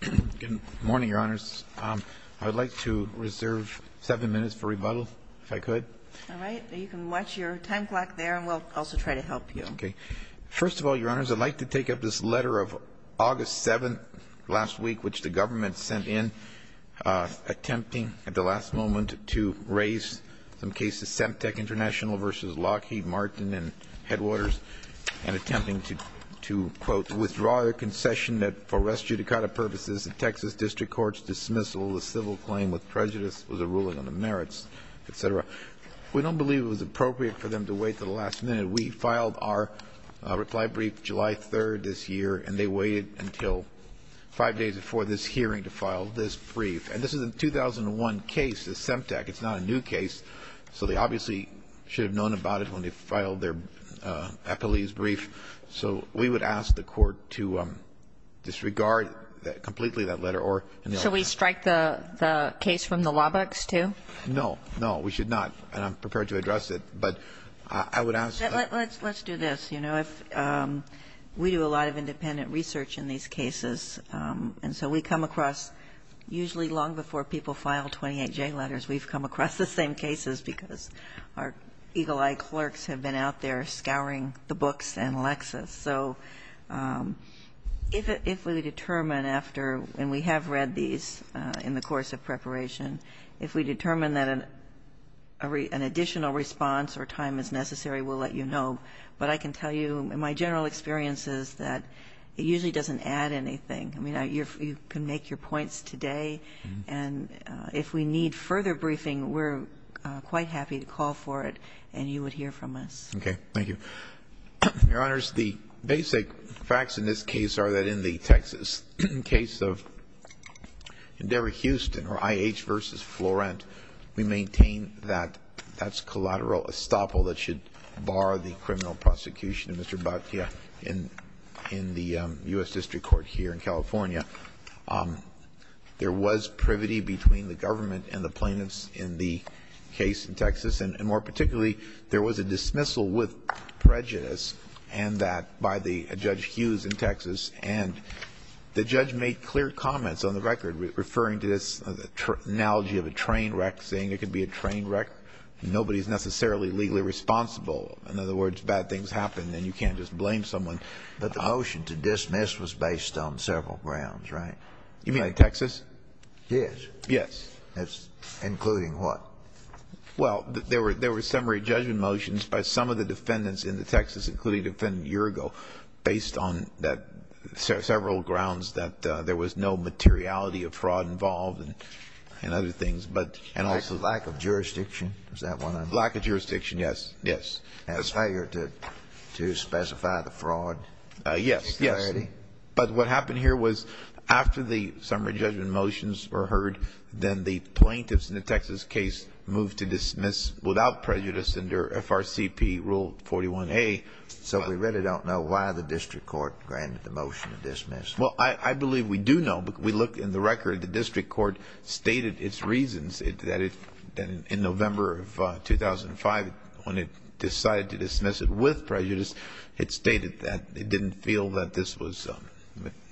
Good morning, Your Honors. I would like to reserve seven minutes for rebuttal, if I could. All right. You can watch your time clock there, and we'll also try to help you. First of all, Your Honors, I'd like to take up this letter of August 7, last week, which the government sent in, attempting at the last moment to raise some cases, Semtec International v. Lockheed Martin and Headwaters, and attempting to, quote, withdraw a concession that, for res judicata purposes, the Texas district court's dismissal, the civil claim with prejudice, was a ruling on the merits, et cetera. We don't believe it was appropriate for them to wait until the last minute. We filed our reply brief July 3rd this year, and they waited until five days before this hearing to file this brief. And this is a 2001 case, a Semtec. It's not a new case. So they obviously should have known about it when they filed their epilese brief. So we would ask the Court to disregard completely that letter or no. So we strike the case from the law books, too? No. No. We should not. And I'm prepared to address it. But I would ask. Let's do this. You know, if we do a lot of independent research in these cases, and so we come across usually long before people file 28J letters, we've come across the same cases because our eagle-eyed clerks have been out there scouring the books and Lexis. So if we determine after, and we have read these in the course of preparation, if we determine that an additional response or time is necessary, we'll let you know. But I can tell you in my general experiences that it usually doesn't add anything. I mean, you can make your points today. And if we need further briefing, we're quite happy to call for it and you would hear from us. Okay. Thank you. Your Honors, the basic facts in this case are that in the Texas case of Endeavor Houston or IH v. Florent, we maintain that that's collateral estoppel that should be used for the criminal prosecution of Mr. Batia in the U.S. District Court here in California. There was privity between the government and the plaintiffs in the case in Texas. And more particularly, there was a dismissal with prejudice and that by the Judge Hughes in Texas. And the judge made clear comments on the record referring to this analogy of a train wreck, saying it could be a train wreck. Nobody is necessarily legally responsible. In other words, bad things happen and you can't just blame someone. But the motion to dismiss was based on several grounds, right? You mean in Texas? Yes. Yes. Including what? Well, there were summary judgment motions by some of the defendants in the Texas, including Defendant Urgo, based on several grounds that there was no materiality of fraud involved and other things. And also lack of jurisdiction. Is that what I'm saying? Lack of jurisdiction, yes. As higher to specify the fraud? Yes. But what happened here was after the summary judgment motions were heard, then the plaintiffs in the Texas case moved to dismiss without prejudice under FRCP Rule 41A. So we really don't know why the District Court granted the motion to dismiss. Well, I believe we do know. We look in the record, the District Court stated its reasons that in November of 2005, when it decided to dismiss it with prejudice, it stated that it didn't feel that this was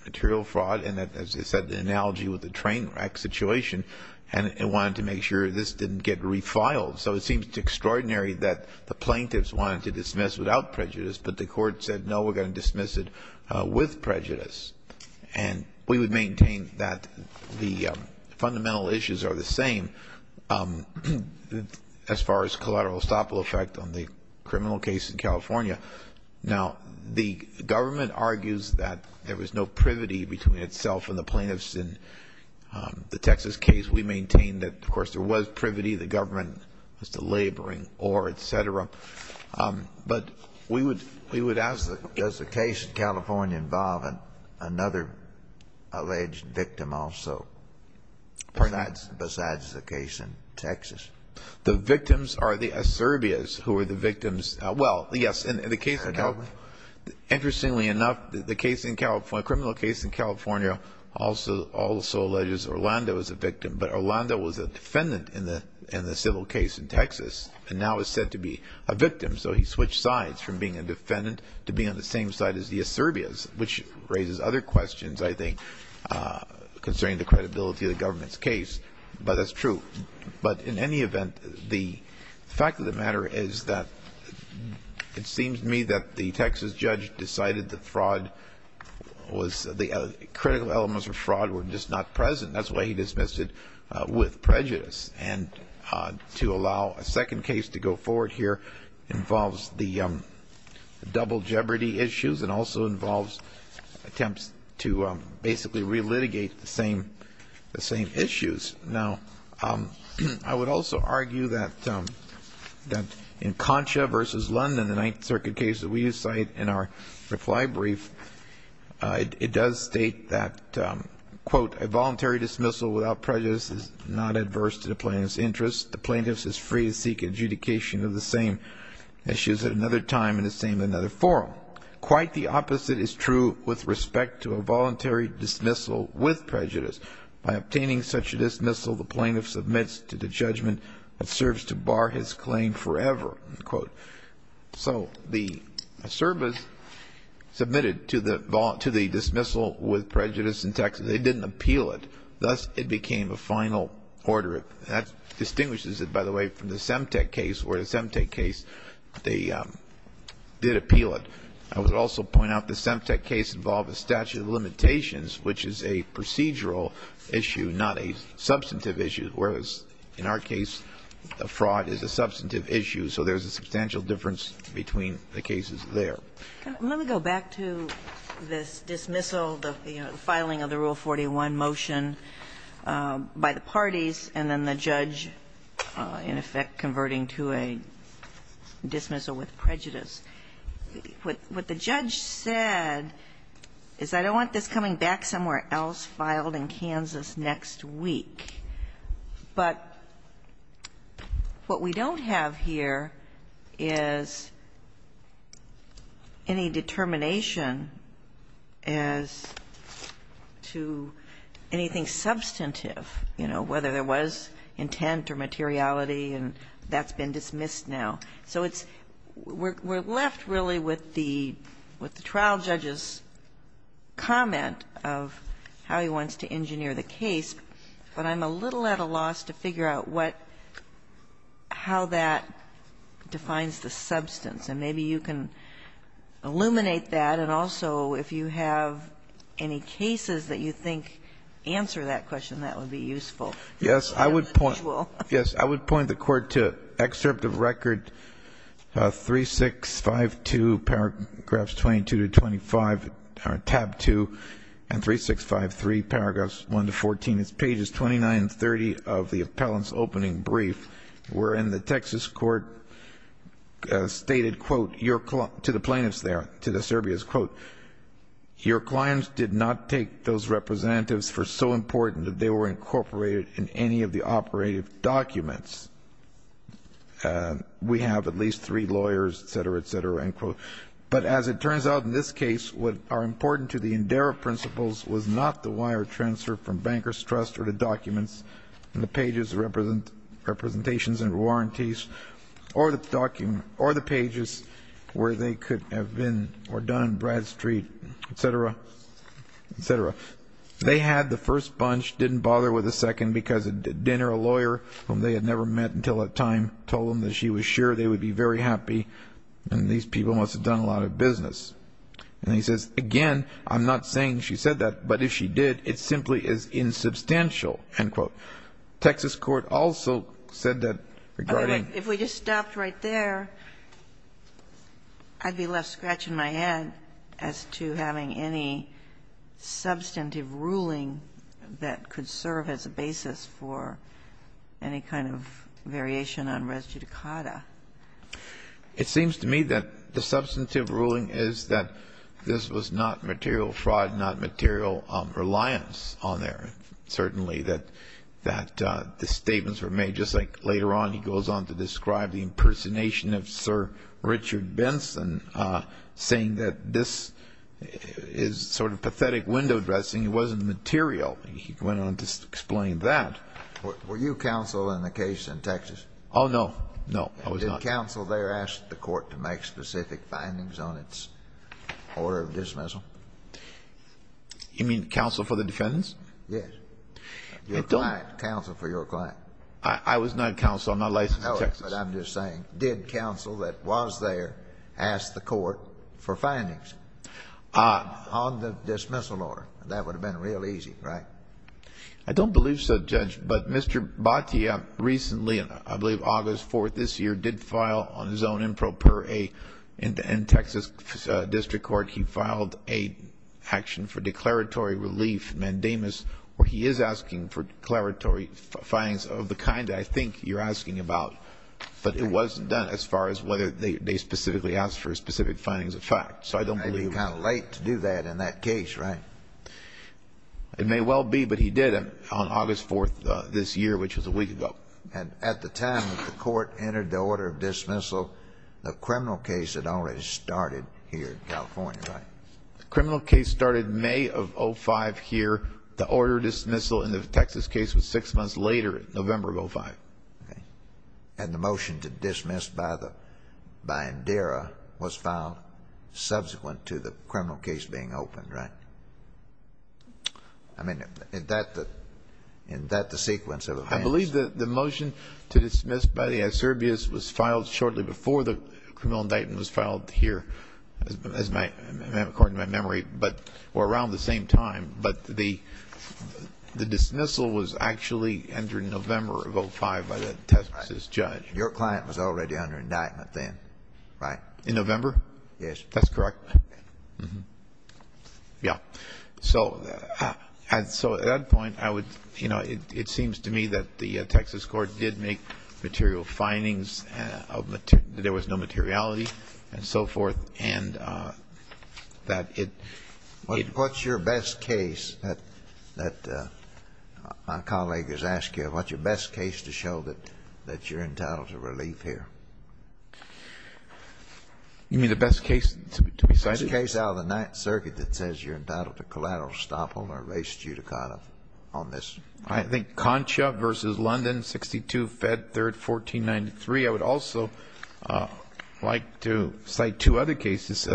material fraud and that, as I said, the analogy with the train wreck situation, and it wanted to make sure this didn't get refiled. So it seems extraordinary that the plaintiffs wanted to dismiss without prejudice, but the court said, no, we're going to dismiss it with prejudice. And we would maintain that the fundamental issues are the same as far as the collateral estoppel effect on the criminal case in California. Now, the government argues that there was no privity between itself and the plaintiffs in the Texas case. We maintain that, of course, there was privity. The government was delaboring or et cetera. But we would ask, does the case in California involve another alleged victim also? Besides the case in Texas. The victims are the ascerbias who are the victims. Well, yes. Interestingly enough, the criminal case in California also alleges Orlando is a victim. But Orlando was a defendant in the civil case in Texas and now is said to be a victim. So he switched sides from being a defendant to being on the same side as the ascerbias, which raises other questions, I think, concerning the credibility of the government's case. But that's true. But in any event, the fact of the matter is that it seems to me that the Texas judge decided that fraud was the critical elements of fraud were just not present. That's why he dismissed it with prejudice. And to allow a second case to go forward here involves the double jeopardy issues and also involves attempts to basically relitigate the same issues. Now, I would also argue that in Concha v. London, the Ninth Circuit case that we cite in our reply brief, it does state that, quote, a voluntary dismissal without prejudice is not adverse to the plaintiff's interests. The plaintiff is free to seek adjudication of the same issues at another time in the same or another forum. Quite the opposite is true with respect to a voluntary dismissal with prejudice. By obtaining such a dismissal, the plaintiff submits to the judgment that serves to bar his claim forever, unquote. So the ascerbias submitted to the dismissal with prejudice in Texas, they didn't appeal it. Thus, it became a final order. That distinguishes it, by the way, from the Semtec case, where the Semtec case they did appeal it. And that is a procedural issue, not a substantive issue, whereas in our case the fraud is a substantive issue. So there's a substantial difference between the cases there. Let me go back to this dismissal, the filing of the Rule 41 motion by the parties, and then the judge in effect converting to a dismissal with prejudice. What the judge said is, I don't want this coming back somewhere else filed in Kansas next week. But what we don't have here is any determination as to anything substantive, you know, whether there was intent or materiality, and that's been dismissed now. So it's we're left really with the trial judge's comment of how he wants to engineer the case. But I'm a little at a loss to figure out what, how that defines the substance. And maybe you can illuminate that. And also, if you have any cases that you think answer that question, that would be useful. Yes. I would point the Court to excerpt of Record 3652, paragraphs 22 to 25, or tab 2, and 3653, paragraphs 1 to 14. It's pages 29 and 30 of the appellant's opening brief, wherein the Texas court stated, quote, to the plaintiffs there, to the Serbias, quote, your clients did not take those representatives for so important that they were incorporated in any of the operative documents. We have at least three lawyers, et cetera, et cetera, end quote. But as it turns out in this case, what are important to the Indera principles was not the wire transfer from Bankers Trust or the documents and the pages of representations and warranties or the documents or the pages where they could have been or done, Bradstreet, et cetera, et cetera. They had the first bunch, didn't bother with the second because a dinner, a lawyer whom they had never met until that time told them that she was sure they would be very happy and these people must have done a lot of business. And he says, again, I'm not saying she said that, but if she did, it simply is insubstantial, end quote. The Texas court also said that regarding. If we just stopped right there, I'd be left scratching my head as to having any substantive ruling that could serve as a basis for any kind of variation on res judicata. It seems to me that the substantive ruling is that this was not material fraud, not material reliance on their, certainly that the statements were made. Just like later on he goes on to describe the impersonation of Sir Richard Benson saying that this is sort of pathetic window dressing. It wasn't material. He went on to explain that. Were you counsel in the case in Texas? Oh, no. No, I was not. Did counsel there ask the court to make specific findings on its order of dismissal? You mean counsel for the defendants? Yes. Your client. Counsel for your client. I was not counsel. I'm not licensed in Texas. No, but I'm just saying, did counsel that was there ask the court for findings on the dismissal order? That would have been real easy, right? I don't believe so, Judge. But Mr. Batia recently, I believe August 4th this year, did file on his own improper in Texas District Court. He filed a action for declaratory relief, mandamus, where he is asking for declaratory findings of the kind I think you're asking about. But it wasn't done as far as whether they specifically asked for specific findings of fact. So I don't believe. Maybe he was kind of late to do that in that case, right? It may well be, but he did on August 4th this year, which was a week ago. And at the time that the court entered the order of dismissal, the criminal case had already started here in California, right? The criminal case started May of 2005 here. The order of dismissal in the Texas case was six months later, November of 2005. And the motion to dismiss by Indira was filed subsequent to the criminal case being opened, right? I believe the motion to dismiss by the SRBS was filed shortly before the criminal indictment was filed here, according to my memory, or around the same time. But the dismissal was actually entered in November of 2005 by the Texas judge. Your client was already under indictment then, right? In November? Yes. That's correct. Yeah. So at that point, I would, you know, it seems to me that the Texas court did make material findings, that there was no materiality and so forth, and that it ---- What's your best case that my colleague has asked you? What's your best case to show that you're entitled to relief here? You mean the best case to be cited? The best case out of the Ninth Circuit that says you're entitled to collateral estoppel or race judicata on this. I think Concha v. London, 62, Fed, 3rd, 1493. I would also like to cite two other cases,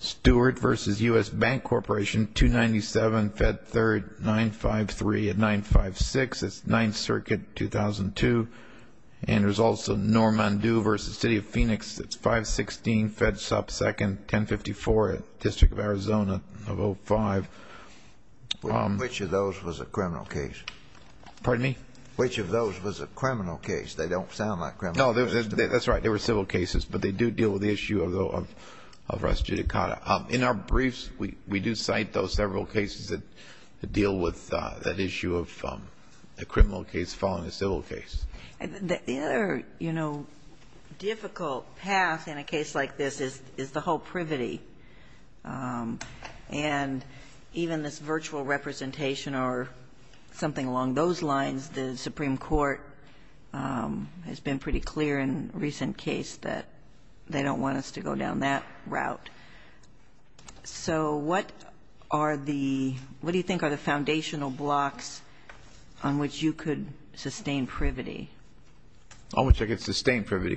Stewart v. U.S. Bank Corporation, 297, Fed, 3rd, 953 and 956. That's Ninth Circuit, 2002. And there's also Normandu v. City of Phoenix. It's 516, Fed, 2nd, 1054, District of Arizona of 05. Which of those was a criminal case? Pardon me? Which of those was a criminal case? They don't sound like criminal cases to me. No, that's right. They were civil cases, but they do deal with the issue of race judicata. In our briefs, we do cite those several cases that deal with that issue of a criminal case following a civil case. The other, you know, difficult path in a case like this is the whole privity. And even this virtual representation or something along those lines, the Supreme Court has been pretty clear in a recent case that they don't want us to go down that route. So what are the, what do you think are the foundational blocks on which you could sustain privity? On which I could sustain privity.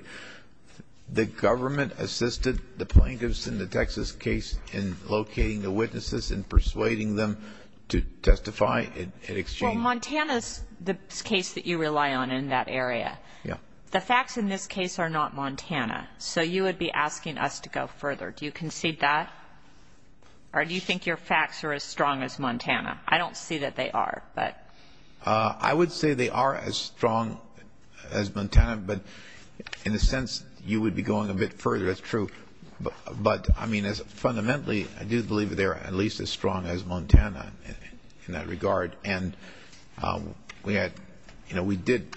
The government assisted the plaintiffs in the Texas case in locating the witnesses and persuading them to testify in exchange. Well, Montana's the case that you rely on in that area. Yeah. The facts in this case are not Montana. So you would be asking us to go further. Do you concede that? Or do you think your facts are as strong as Montana? I don't see that they are, but. I would say they are as strong as Montana, but in a sense, you would be going a bit further. That's true. But, I mean, fundamentally, I do believe they're at least as strong as Montana in that regard. And we had, you know, we did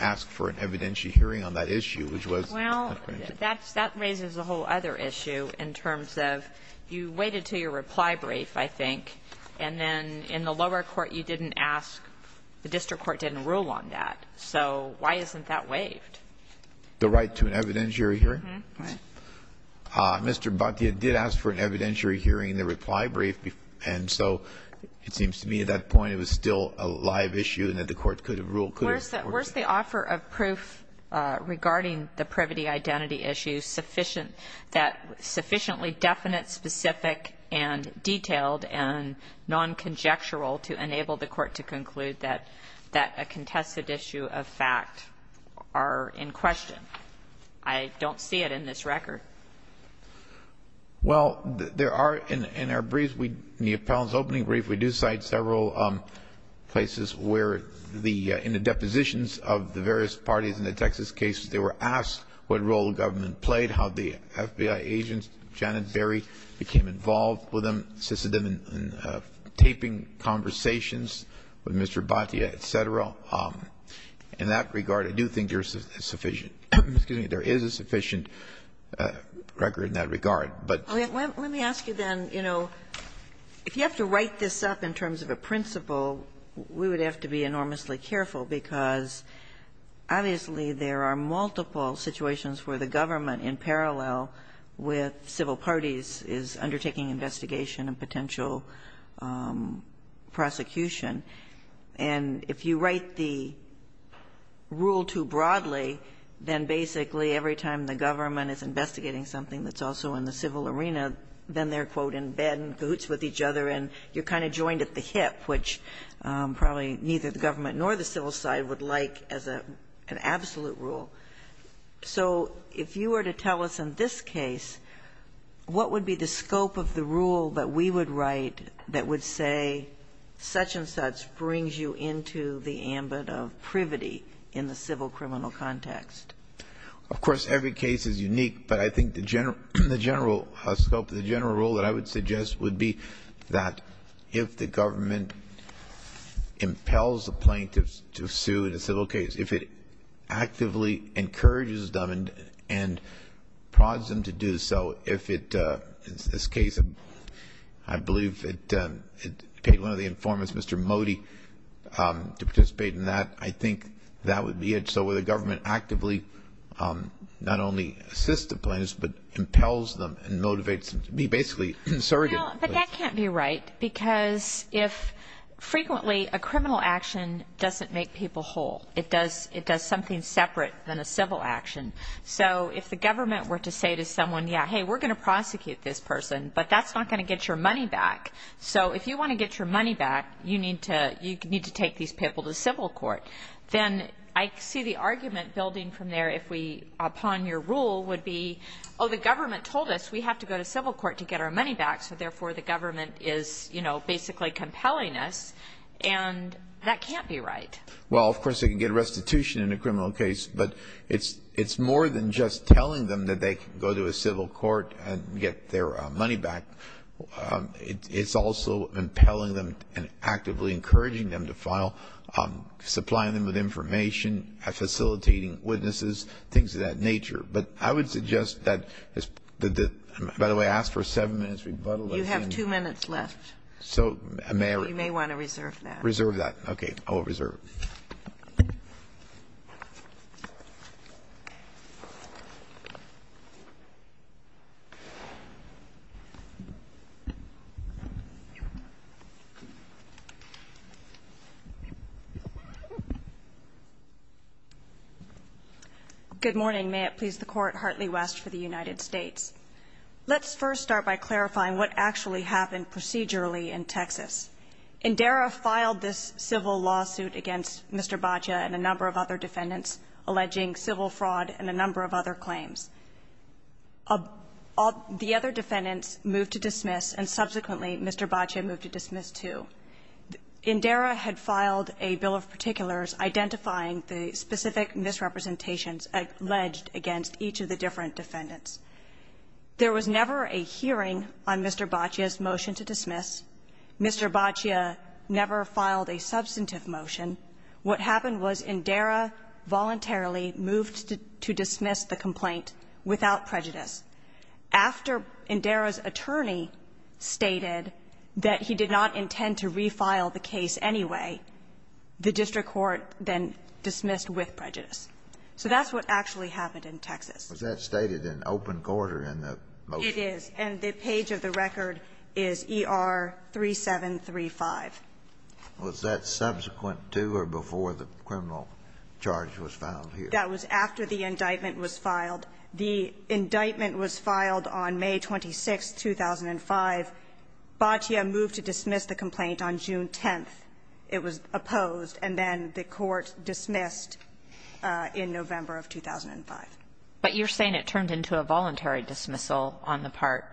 ask for an evidentiary hearing on that issue, which was not granted. Well, that raises a whole other issue in terms of you waited until your reply brief, I think, and then in the lower court you didn't ask, the district court didn't rule on that. So why isn't that waived? The right to an evidentiary hearing? Uh-huh. Right. Mr. Bhatia did ask for an evidentiary hearing in the reply brief, and so it seems to me at that point it was still a live issue and that the court could have ruled could have supported it. Well, where's the offer of proof regarding the privity identity issue sufficient that sufficiently definite, specific, and detailed and non-conjectural to enable the court to conclude that a contested issue of fact are in question? I don't see it in this record. Well, there are in our briefs, in the appellant's opening brief, we do cite several places where the – in the depositions of the various parties in the Texas case, they were asked what role the government played, how the FBI agent, Janet Berry, became involved with them, assisted them in taping conversations with Mr. Bhatia, et cetera. In that regard, I do think there is a sufficient record in that regard. But let me ask you then, you know, if you have to write this up in terms of a principle, we would have to be enormously careful, because obviously there are multiple situations where the government, in parallel with civil parties, is undertaking investigation and potential prosecution, and if you write the rule too broadly, then basically every time the government is investigating something that's also in the civil arena, then they're, quote, in bed and in cahoots with each other and you're kind of joined at the hip, which probably neither the government nor the civil side would like as an absolute rule. So if you were to tell us in this case what would be the scope of the rule that we would write that would say such-and-such brings you into the ambit of privity in the civil criminal context? Of course, every case is unique, but I think the general scope, the general rule that I would suggest would be that if the government impels the plaintiffs to sue in a civil case, if it actively encourages them and prods them to do so, if it, in this case, I believe it paid one of the informants, Mr. Modi, to participate in that, I think that would be it. So where the government actively not only assists the plaintiffs, but impels them and motivates them to be basically surrogate. But that can't be right, because if frequently a criminal action doesn't make people whole. It does something separate than a civil action. So if the government were to say to someone, yeah, hey, we're going to prosecute this person, but that's not going to get your money back. So if you want to get your money back, you need to take these people to civil court. Then I see the argument building from there if we, upon your rule, would be, oh, the government told us we have to go to civil court to get our money back, so therefore the government is, you know, basically compelling us. And that can't be right. Well, of course, they can get restitution in a criminal case, but it's more than just telling them that they can go to a civil court and get their money back. It's also impelling them and actively encouraging them to file, supplying them with information, facilitating witnesses, things of that nature. But I would suggest that the by the way, I asked for a seven-minute rebuttal. You have two minutes left. So may I? You may want to reserve that. Reserve that. Okay. I will reserve it. Good morning. May it please the Court, Hartley West for the United States. Let's first start by clarifying what actually happened procedurally in Texas. Indera filed this civil lawsuit against Mr. Baccia and a number of other defendants alleging civil fraud and a number of other claims. The other defendants moved to dismiss, and subsequently Mr. Baccia moved to dismiss too. Indera had filed a bill of particulars identifying the specific misrepresentations alleged against each of the different defendants. There was never a hearing on Mr. Baccia's motion to dismiss. Mr. Baccia never filed a substantive motion. What happened was Indera voluntarily moved to dismiss the complaint without prejudice. After Indera's attorney stated that he did not intend to refile the case anyway, the district court then dismissed with prejudice. So that's what actually happened in Texas. Was that stated in open court or in the motion? It is. And the page of the record is ER-3735. Was that subsequent to or before the criminal charge was filed here? That was after the indictment was filed. The indictment was filed on May 26th, 2005. Baccia moved to dismiss the complaint on June 10th. It was opposed. And then the court dismissed in November of 2005. But you're saying it turned into a voluntary dismissal on the part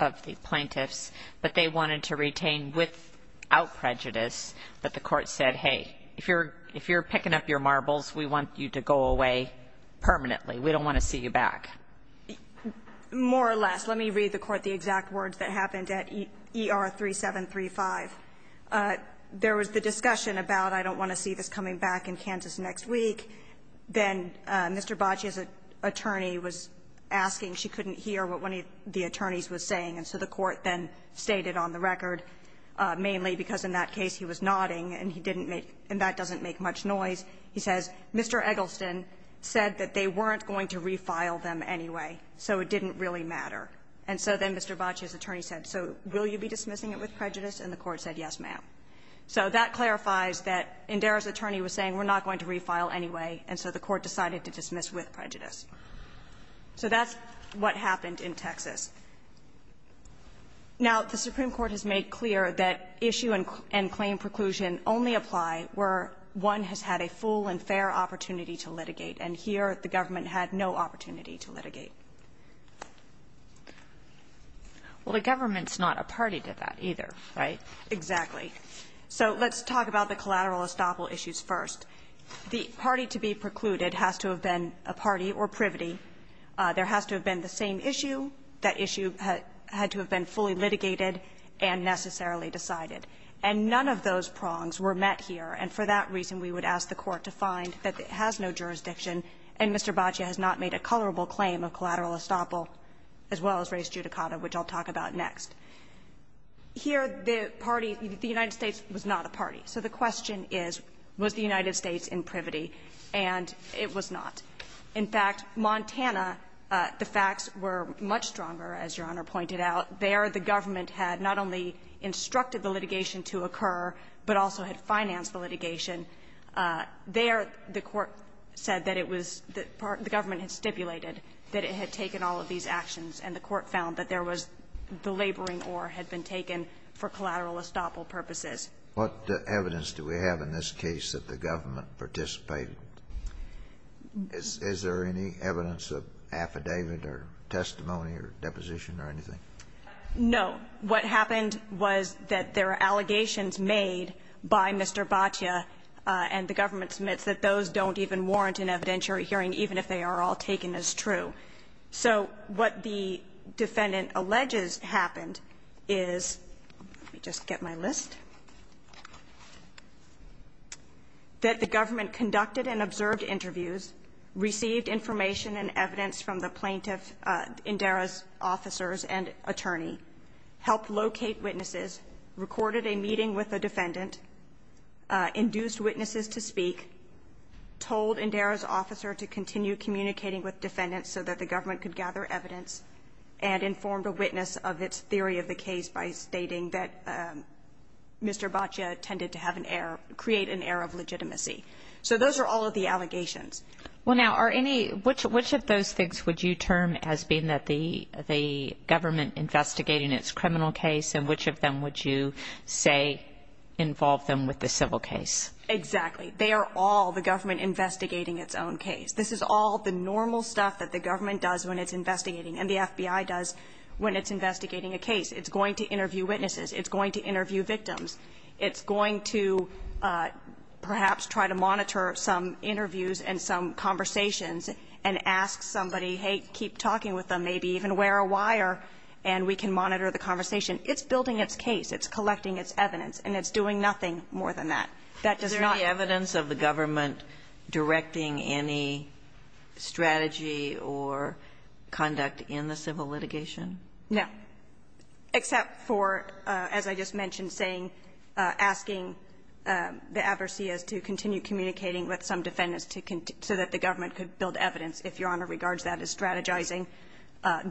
of the plaintiffs, but they wanted to retain without prejudice that the court said, hey, if you're picking up your marbles, we want you to go away permanently. We don't want to see you back. More or less. Let me read the court the exact words that happened at ER-3735. There was the discussion about I don't want to see this coming back in Kansas next week. Then Mr. Baccia's attorney was asking. She couldn't hear what one of the attorneys was saying. And so the court then stated on the record, mainly because in that case he was nodding and he didn't make, and that doesn't make much noise, he says, Mr. Eggleston said that they weren't going to refile them anyway, so it didn't really matter. And so then Mr. Baccia's attorney said, so will you be dismissing it with prejudice? And the court said, yes, ma'am. So that clarifies that Indera's attorney was saying we're not going to refile anyway, and so the court decided to dismiss with prejudice. So that's what happened in Texas. Now, the Supreme Court has made clear that issue and claim preclusion only apply where one has had a full and fair opportunity to litigate, and here the government had no opportunity to litigate. Well, the government's not a party to that either, right? Exactly. So let's talk about the collateral estoppel issues first. The party to be precluded has to have been a party or privity. There has to have been the same issue. That issue had to have been fully litigated and necessarily decided. And none of those prongs were met here, and for that reason, we would ask the court to find that it has no jurisdiction, and Mr. Baccia has not made a colorable claim of collateral estoppel as well as res judicata, which I'll talk about next. Here, the party, the United States was not a party. So the question is, was the United States in privity? And it was not. In fact, Montana, the facts were much stronger, as Your Honor pointed out. There, the government had not only instructed the litigation to occur, but also had financed the litigation. There, the court said that it was the government had stipulated that it had taken all of these actions, and the court found that there was the laboring oar had been taken for collateral estoppel purposes. What evidence do we have in this case that the government participated? Is there any evidence of affidavit or testimony or deposition or anything? No. What happened was that there are allegations made by Mr. Baccia, and the government admits that those don't even warrant an evidentiary hearing, even if they are all taken as true. So what the defendant alleges happened is, let me just get my list, that the government conducted and observed interviews, received information and evidence from the plaintiff Indira's officers and attorney, helped locate witnesses, recorded a meeting with the defendant, induced witnesses to speak, told Indira's officer to continue communicating with defendants so that the government could gather evidence, and informed a witness of its theory of the case by stating that Mr. Baccia tended to have an error, create an error of legitimacy. So those are all of the allegations. Well, now, are any, which of those things would you term as being that the government investigating its criminal case, and which of them would you say involved them with the civil case? Exactly. They are all the government investigating its own case. This is all the normal stuff that the government does when it's investigating, and the FBI does when it's investigating a case. It's going to interview witnesses. It's going to interview victims. It's going to perhaps try to monitor some interviews and some conversations and ask somebody, hey, keep talking with them, maybe even wear a wire, and we can monitor the conversation. It's building its case. It's collecting its evidence. And it's doing nothing more than that. That does not. Is there any evidence of the government directing any strategy or conduct in the civil litigation? No. Except for, as I just mentioned, saying, asking the adverseas to continue communicating with some defendants so that the government could build evidence if Your Honor regards that as strategizing,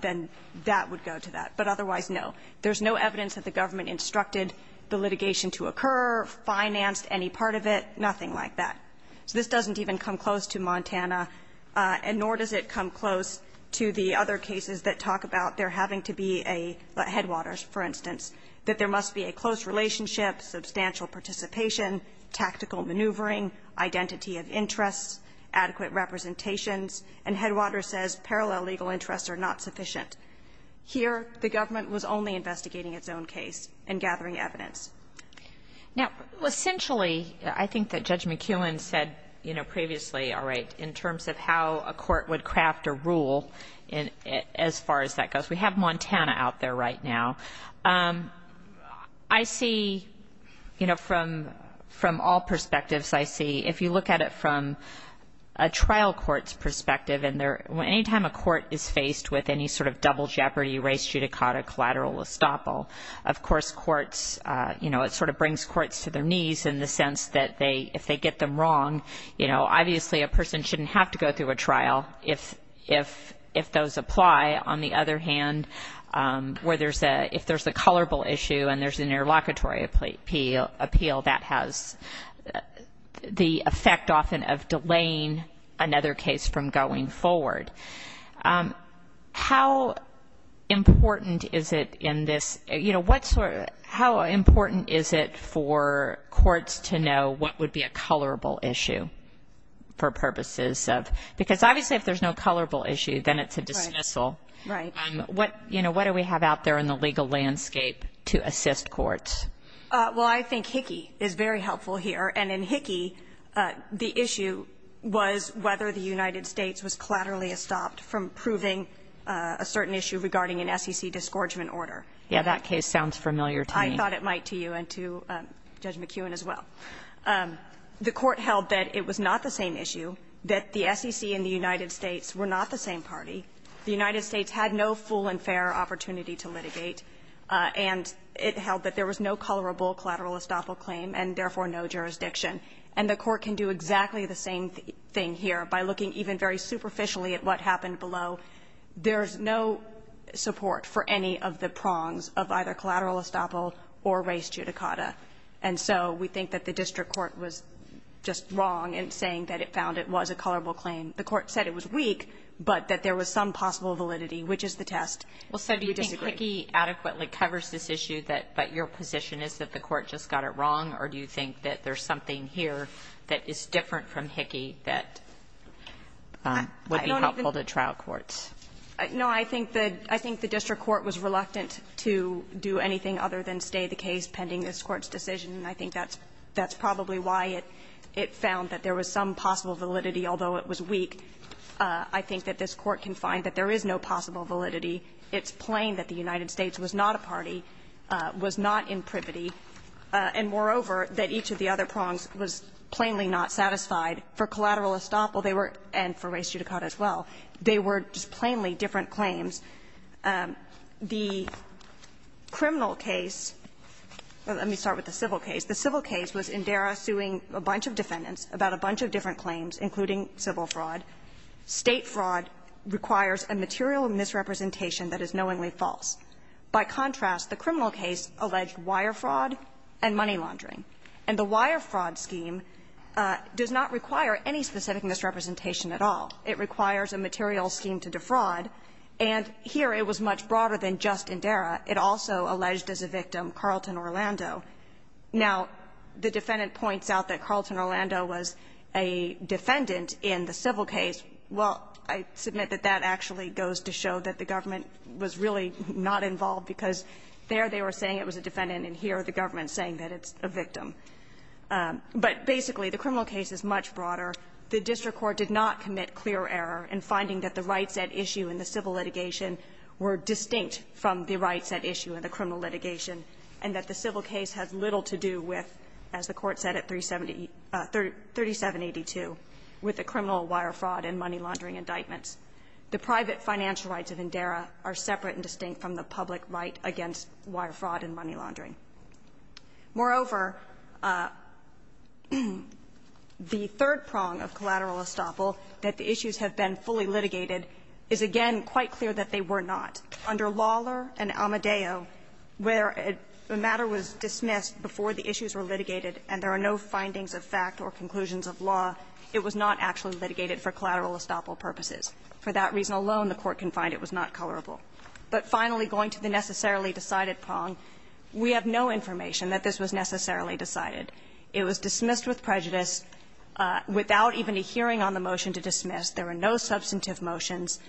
then that would go to that. But otherwise, no. There's no evidence that the government instructed the litigation to occur, financed any part of it, nothing like that. So this doesn't even come close to Montana, and nor does it come close to the other cases that talk about there having to be a Headwaters, for instance, that there must be a close relationship, substantial participation, tactical maneuvering, identity of interest, adequate representations. And Headwaters says parallel legal interests are not sufficient. Here, the government was only investigating its own case and gathering evidence. Now, essentially, I think that Judge McKeown said, you know, previously, all right, in terms of how a court would craft a rule as far as that goes. We have Montana out there right now. I see, you know, from all perspectives, I see if you look at it from a trial court's perspective, and any time a court is faced with any sort of double jeopardy, race, judicata, collateral, estoppel, of course courts, you know, it sort of brings courts to their knees in the sense that if they get them wrong, you know, obviously a person shouldn't have to go through a trial. If those apply, on the other hand, where there's a, if there's a colorable issue and there's an interlocutory appeal, that has the effect often of delaying another case from going forward. How important is it in this, you know, what sort of, how important is it for courts to know what would be a colorable issue for purposes of, because obviously if there's no colorable issue, then it's a dismissal. Right. What, you know, what do we have out there in the legal landscape to assist courts? Well, I think HICCI is very helpful here. And in HICCI, the issue was whether the United States was collaterally estopped from proving a certain issue regarding an SEC disgorgement order. Yeah, that case sounds familiar to me. I thought it might to you and to Judge McEwen as well. The court held that it was not the same issue, that the SEC and the United States were not the same party. The United States had no full and fair opportunity to litigate, and it held that there was no colorable collateral estoppel claim and therefore no jurisdiction. And the court can do exactly the same thing here by looking even very superficially at what happened below. There's no support for any of the prongs of either collateral estoppel or res judicata. And so we think that the district court was just wrong in saying that it found it was a colorable claim. The court said it was weak, but that there was some possible validity, which is the Do you disagree? Hickey adequately covers this issue, but your position is that the court just got it wrong, or do you think that there's something here that is different from Hickey that would be helpful to trial courts? No, I think the district court was reluctant to do anything other than stay the case pending this Court's decision, and I think that's probably why it found that there was some possible validity, although it was weak. I think that this Court can find that there is no possible validity. It's plain that the United States was not a party, was not in privity, and moreover, that each of the other prongs was plainly not satisfied. For collateral estoppel, they were, and for res judicata as well, they were just plainly different claims. The criminal case, let me start with the civil case. The civil case was Indera suing a bunch of defendants about a bunch of different claims, including civil fraud. State fraud requires a material misrepresentation that is knowingly false. By contrast, the criminal case alleged wire fraud and money laundering. And the wire fraud scheme does not require any specific misrepresentation at all. It requires a material scheme to defraud, and here it was much broader than just Indera. It also alleged as a victim Carlton Orlando. Now, the defendant points out that Carlton Orlando was a defendant in the civil case. Well, I submit that that actually goes to show that the government was really not involved, because there they were saying it was a defendant, and here the government is saying that it's a victim. But basically, the criminal case is much broader. The district court did not commit clear error in finding that the rights at issue in the civil litigation were distinct from the rights at issue in the criminal litigation, and that the civil case has little to do with, as the Court said at 3782, with the criminal wire fraud and money laundering indictments. The private financial rights of Indera are separate and distinct from the public right against wire fraud and money laundering. Moreover, the third prong of collateral estoppel, that the issues have been fully litigated, is again quite clear that they were not. Under Lawler and Amadeo, where a matter was dismissed before the issues were litigated and there are no findings of fact or conclusions of law, it was not actually litigated for collateral estoppel purposes. For that reason alone, the Court can find it was not colorable. But finally, going to the necessarily decided prong, we have no information that this was necessarily decided. It was dismissed with prejudice, without even a hearing on the motion to dismiss. There were no substantive motions.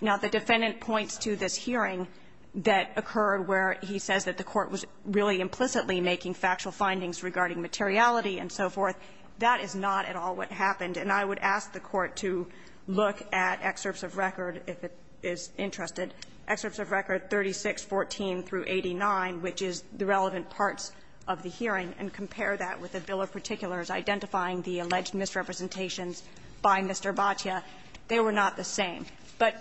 Now, the defendant points to this hearing that occurred where he says that the Court was really implicitly making factual findings regarding materiality and so forth. That is not at all what happened. And I would ask the Court to look at excerpts of record, if it is interested, excerpts of record 3614 through 89, which is the relevant parts of the hearing, and compare that with the bill of particulars identifying the alleged misrepresentations by Mr. Boccia. They were not the same. But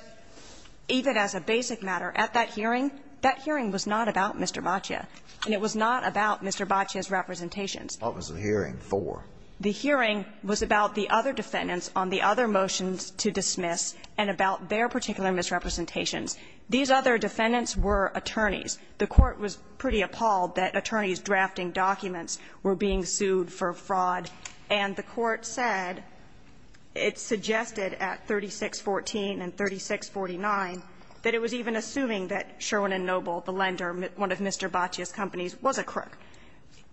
even as a basic matter, at that hearing, that hearing was not about Mr. Boccia, and it was not about Mr. Boccia's representations. What was the hearing for? The hearing was about the other defendants on the other motions to dismiss and about their particular misrepresentations. These other defendants were attorneys. The Court was pretty appalled that attorneys drafting documents were being sued for 3614 and 3649, that it was even assuming that Sherwin & Noble, the lender, one of Mr. Boccia's companies, was a crook.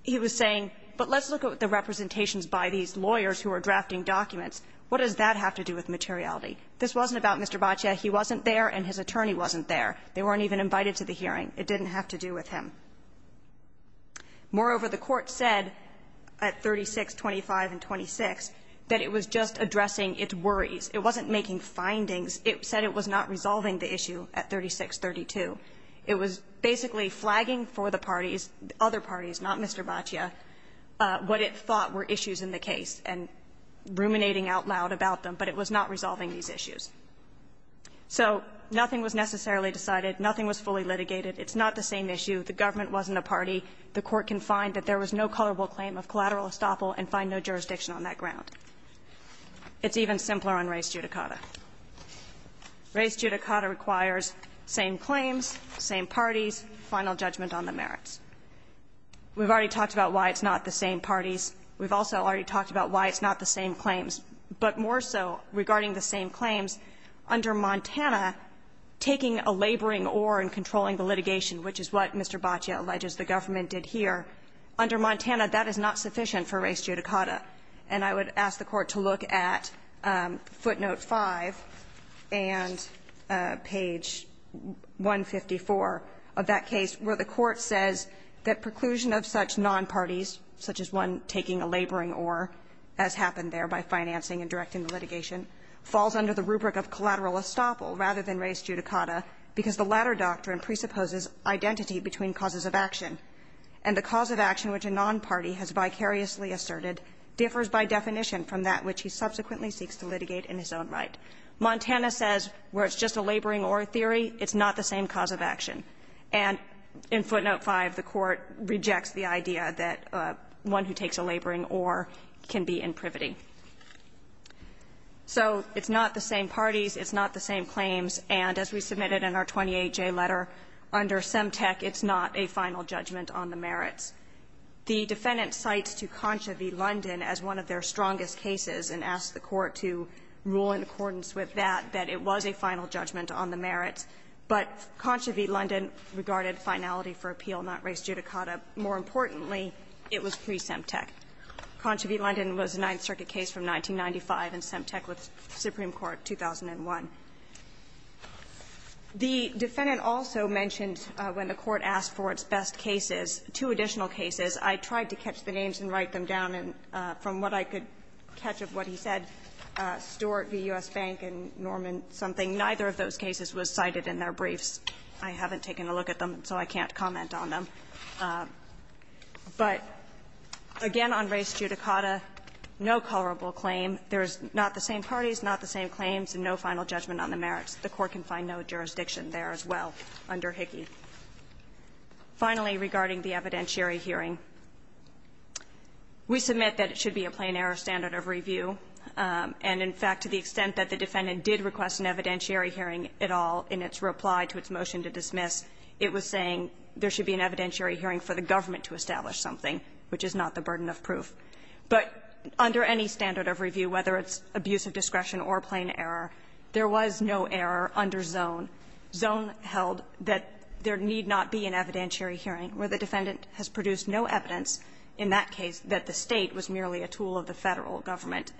He was saying, but let's look at the representations by these lawyers who are drafting documents. What does that have to do with materiality? This wasn't about Mr. Boccia. He wasn't there, and his attorney wasn't there. They weren't even invited to the hearing. It didn't have to do with him. Moreover, the Court said at 3625 and 3626 that it was just addressing its worries. It wasn't making findings. It said it was not resolving the issue at 3632. It was basically flagging for the parties, other parties, not Mr. Boccia, what it thought were issues in the case and ruminating out loud about them, but it was not resolving these issues. So nothing was necessarily decided. Nothing was fully litigated. It's not the same issue. The government wasn't a party. The Court can find that there was no colorable claim of collateral estoppel and find no jurisdiction on that ground. It's even simpler on race judicata. Race judicata requires same claims, same parties, final judgment on the merits. We've already talked about why it's not the same parties. We've also already talked about why it's not the same claims. But more so, regarding the same claims, under Montana, taking a laboring oar in controlling the litigation, which is what Mr. Boccia alleges the government did here, under Montana, that is not sufficient for race judicata. And I would ask the Court to look at footnote 5 and page 154 of that case, where the Court says that preclusion of such nonparties, such as one taking a laboring oar, as happened there by financing and directing the litigation, falls under the rubric of collateral estoppel rather than race judicata because the latter doctrine presupposes identity between causes of action, and the cause of action which a nonparty has vicariously asserted differs by definition from that which he subsequently seeks to litigate in his own right. Montana says where it's just a laboring oar theory, it's not the same cause of action. And in footnote 5, the Court rejects the idea that one who takes a laboring oar can be in privity. So it's not the same parties, it's not the same claims, and as we submitted in our 28J letter, under Semtec, it's not a final judgment on the merits. The defendant cites to Concha v. London as one of their strongest cases and asked the Court to rule in accordance with that, that it was a final judgment on the merits, but Concha v. London regarded finality for appeal, not race judicata. More importantly, it was pre-Semtec. Concha v. London was a Ninth Circuit case from 1995 and Semtec was Supreme Court 2001. The defendant also mentioned when the Court asked for its best cases, two additional cases, I tried to catch the names and write them down, and from what I could catch of what he said, Stewart v. U.S. Bank and Norman something, neither of those cases was cited in their briefs. I haven't taken a look at them, so I can't comment on them. But again, on race judicata, no colorable claim. There's not the same parties, not the same claims, and no final judgment on the merits. The Court can find no jurisdiction there as well under Hickey. Finally, regarding the evidentiary hearing, we submit that it should be a plain error standard of review. And in fact, to the extent that the defendant did request an evidentiary hearing at all in its reply to its motion to dismiss, it was saying there should be an evidentiary hearing for the government to establish something, which is not the burden of proof. But under any standard of review, whether it's abuse of discretion or plain error, there was no error under zone. Zone held that there need not be an evidentiary hearing where the defendant has produced no evidence in that case that the State was merely a tool of the Federal government.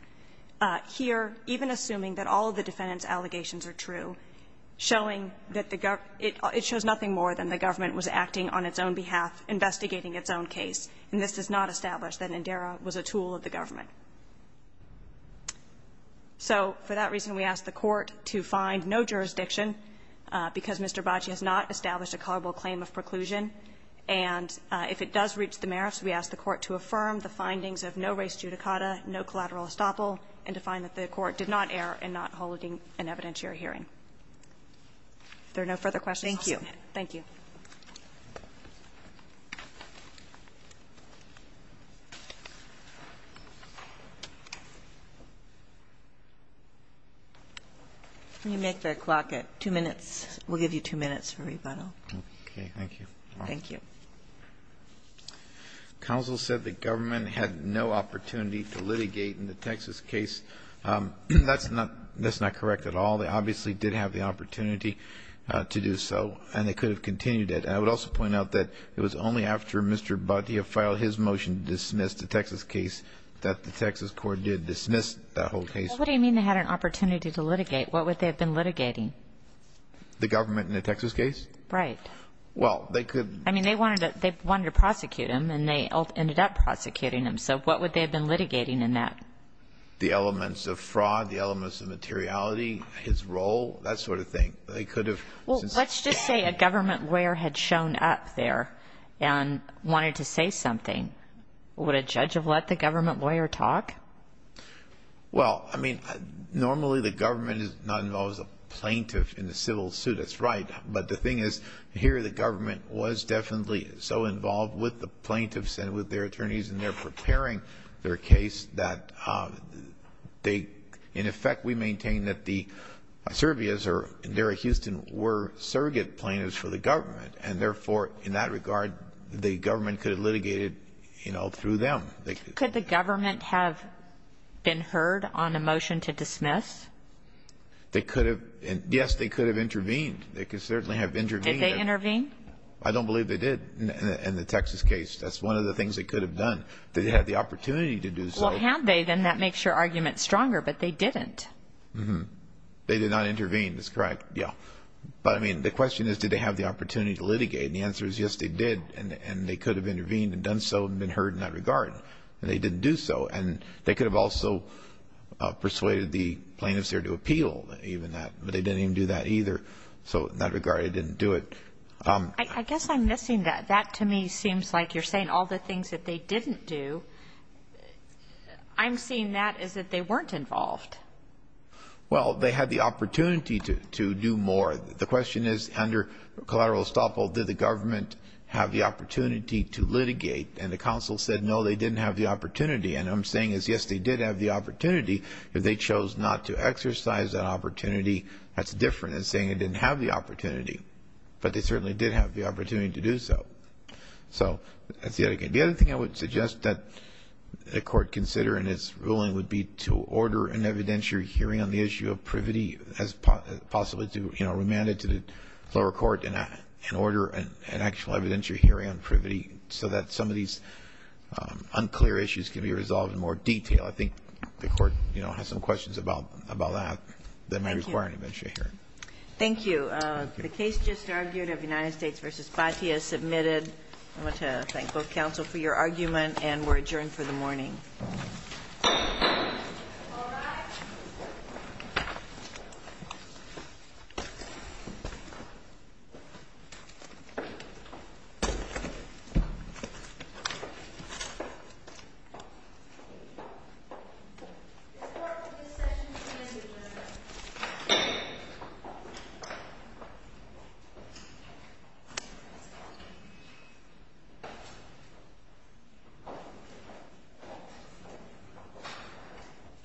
Here, even assuming that all of the defendant's allegations are true, showing that the government – it shows nothing more than the government was acting on its own behalf, investigating its own case. And this does not establish that NDERA was a tool of the government. So for that reason, we ask the Court to find no jurisdiction, because Mr. Bocci has not established a culpable claim of preclusion. And if it does reach the merits, we ask the Court to affirm the findings of no res judicata, no collateral estoppel, and to find that the Court did not err in not holding an evidentiary hearing. If there are no further questions, I'll stop there. Thank you. You make the clock at 2 minutes. We'll give you 2 minutes for rebuttal. Okay. Thank you. Thank you. Counsel said the government had no opportunity to litigate in the Texas case. That's not – that's not correct at all. They obviously did have the opportunity to do so. And they could have continued it. And I would also point out that it was only after Mr. Boccia filed his motion to dismiss the Texas case that the Texas Court did dismiss that whole case. What do you mean they had an opportunity to litigate? What would they have been litigating? The government in the Texas case? Right. Well, they could – I mean, they wanted to – they wanted to prosecute him. And they ended up prosecuting him. So what would they have been litigating in that? The elements of fraud, the elements of materiality, his role, that sort of thing. They could have – Well, let's just say a government lawyer had shown up there and wanted to say something. Would a judge have let the government lawyer talk? Well, I mean, normally the government is not involved as a plaintiff in a civil suit. That's right. But the thing is, here the government was definitely so involved with the plaintiffs and with their attorneys in their preparing their case that they – in effect, we maintain that the Servias or Derry-Houston were surrogate plaintiffs for the government. And therefore, in that regard, the government could have litigated, you know, through them. Could the government have been heard on a motion to dismiss? They could have – yes, they could have intervened. They could certainly have intervened. Did they intervene? I don't believe they did in the Texas case. That's one of the things they could have done. They had the opportunity to do so. Well, had they, then that makes your argument stronger. But they didn't. Mm-hmm. They did not intervene. That's correct. Yeah. But I mean, the question is, did they have the opportunity to litigate? And the answer is yes, they did. And they could have intervened and done so and been heard in that regard. And they didn't do so. And they could have also persuaded the plaintiffs there to appeal even that. But they didn't even do that either. So in that regard, they didn't do it. I guess I'm missing that. That to me seems like you're saying all the things that they didn't do. I'm seeing that as that they weren't involved. Well, they had the opportunity to do more. The question is, under collateral estoppel, did the government have the opportunity to litigate? And the counsel said, no, they didn't have the opportunity. And what I'm saying is, yes, they did have the opportunity. If they chose not to exercise that opportunity, that's different than saying they didn't have the opportunity. But they certainly did have the opportunity to do so. So that's the other thing. The other thing I would suggest that the court consider in its ruling would be to order an evidentiary hearing on the issue of privity, as possibly to remand it to the lower court, and order an actual evidentiary hearing on privity, so that some of these unclear issues can be resolved in more detail. I think the court has some questions about that that might require an evidentiary hearing. Thank you. The case just argued of United States v. Despitee is submitted. I want to thank both counsel for your argument and we're adjourned for the morning. All right. This court will be in session in a few minutes. Thank you.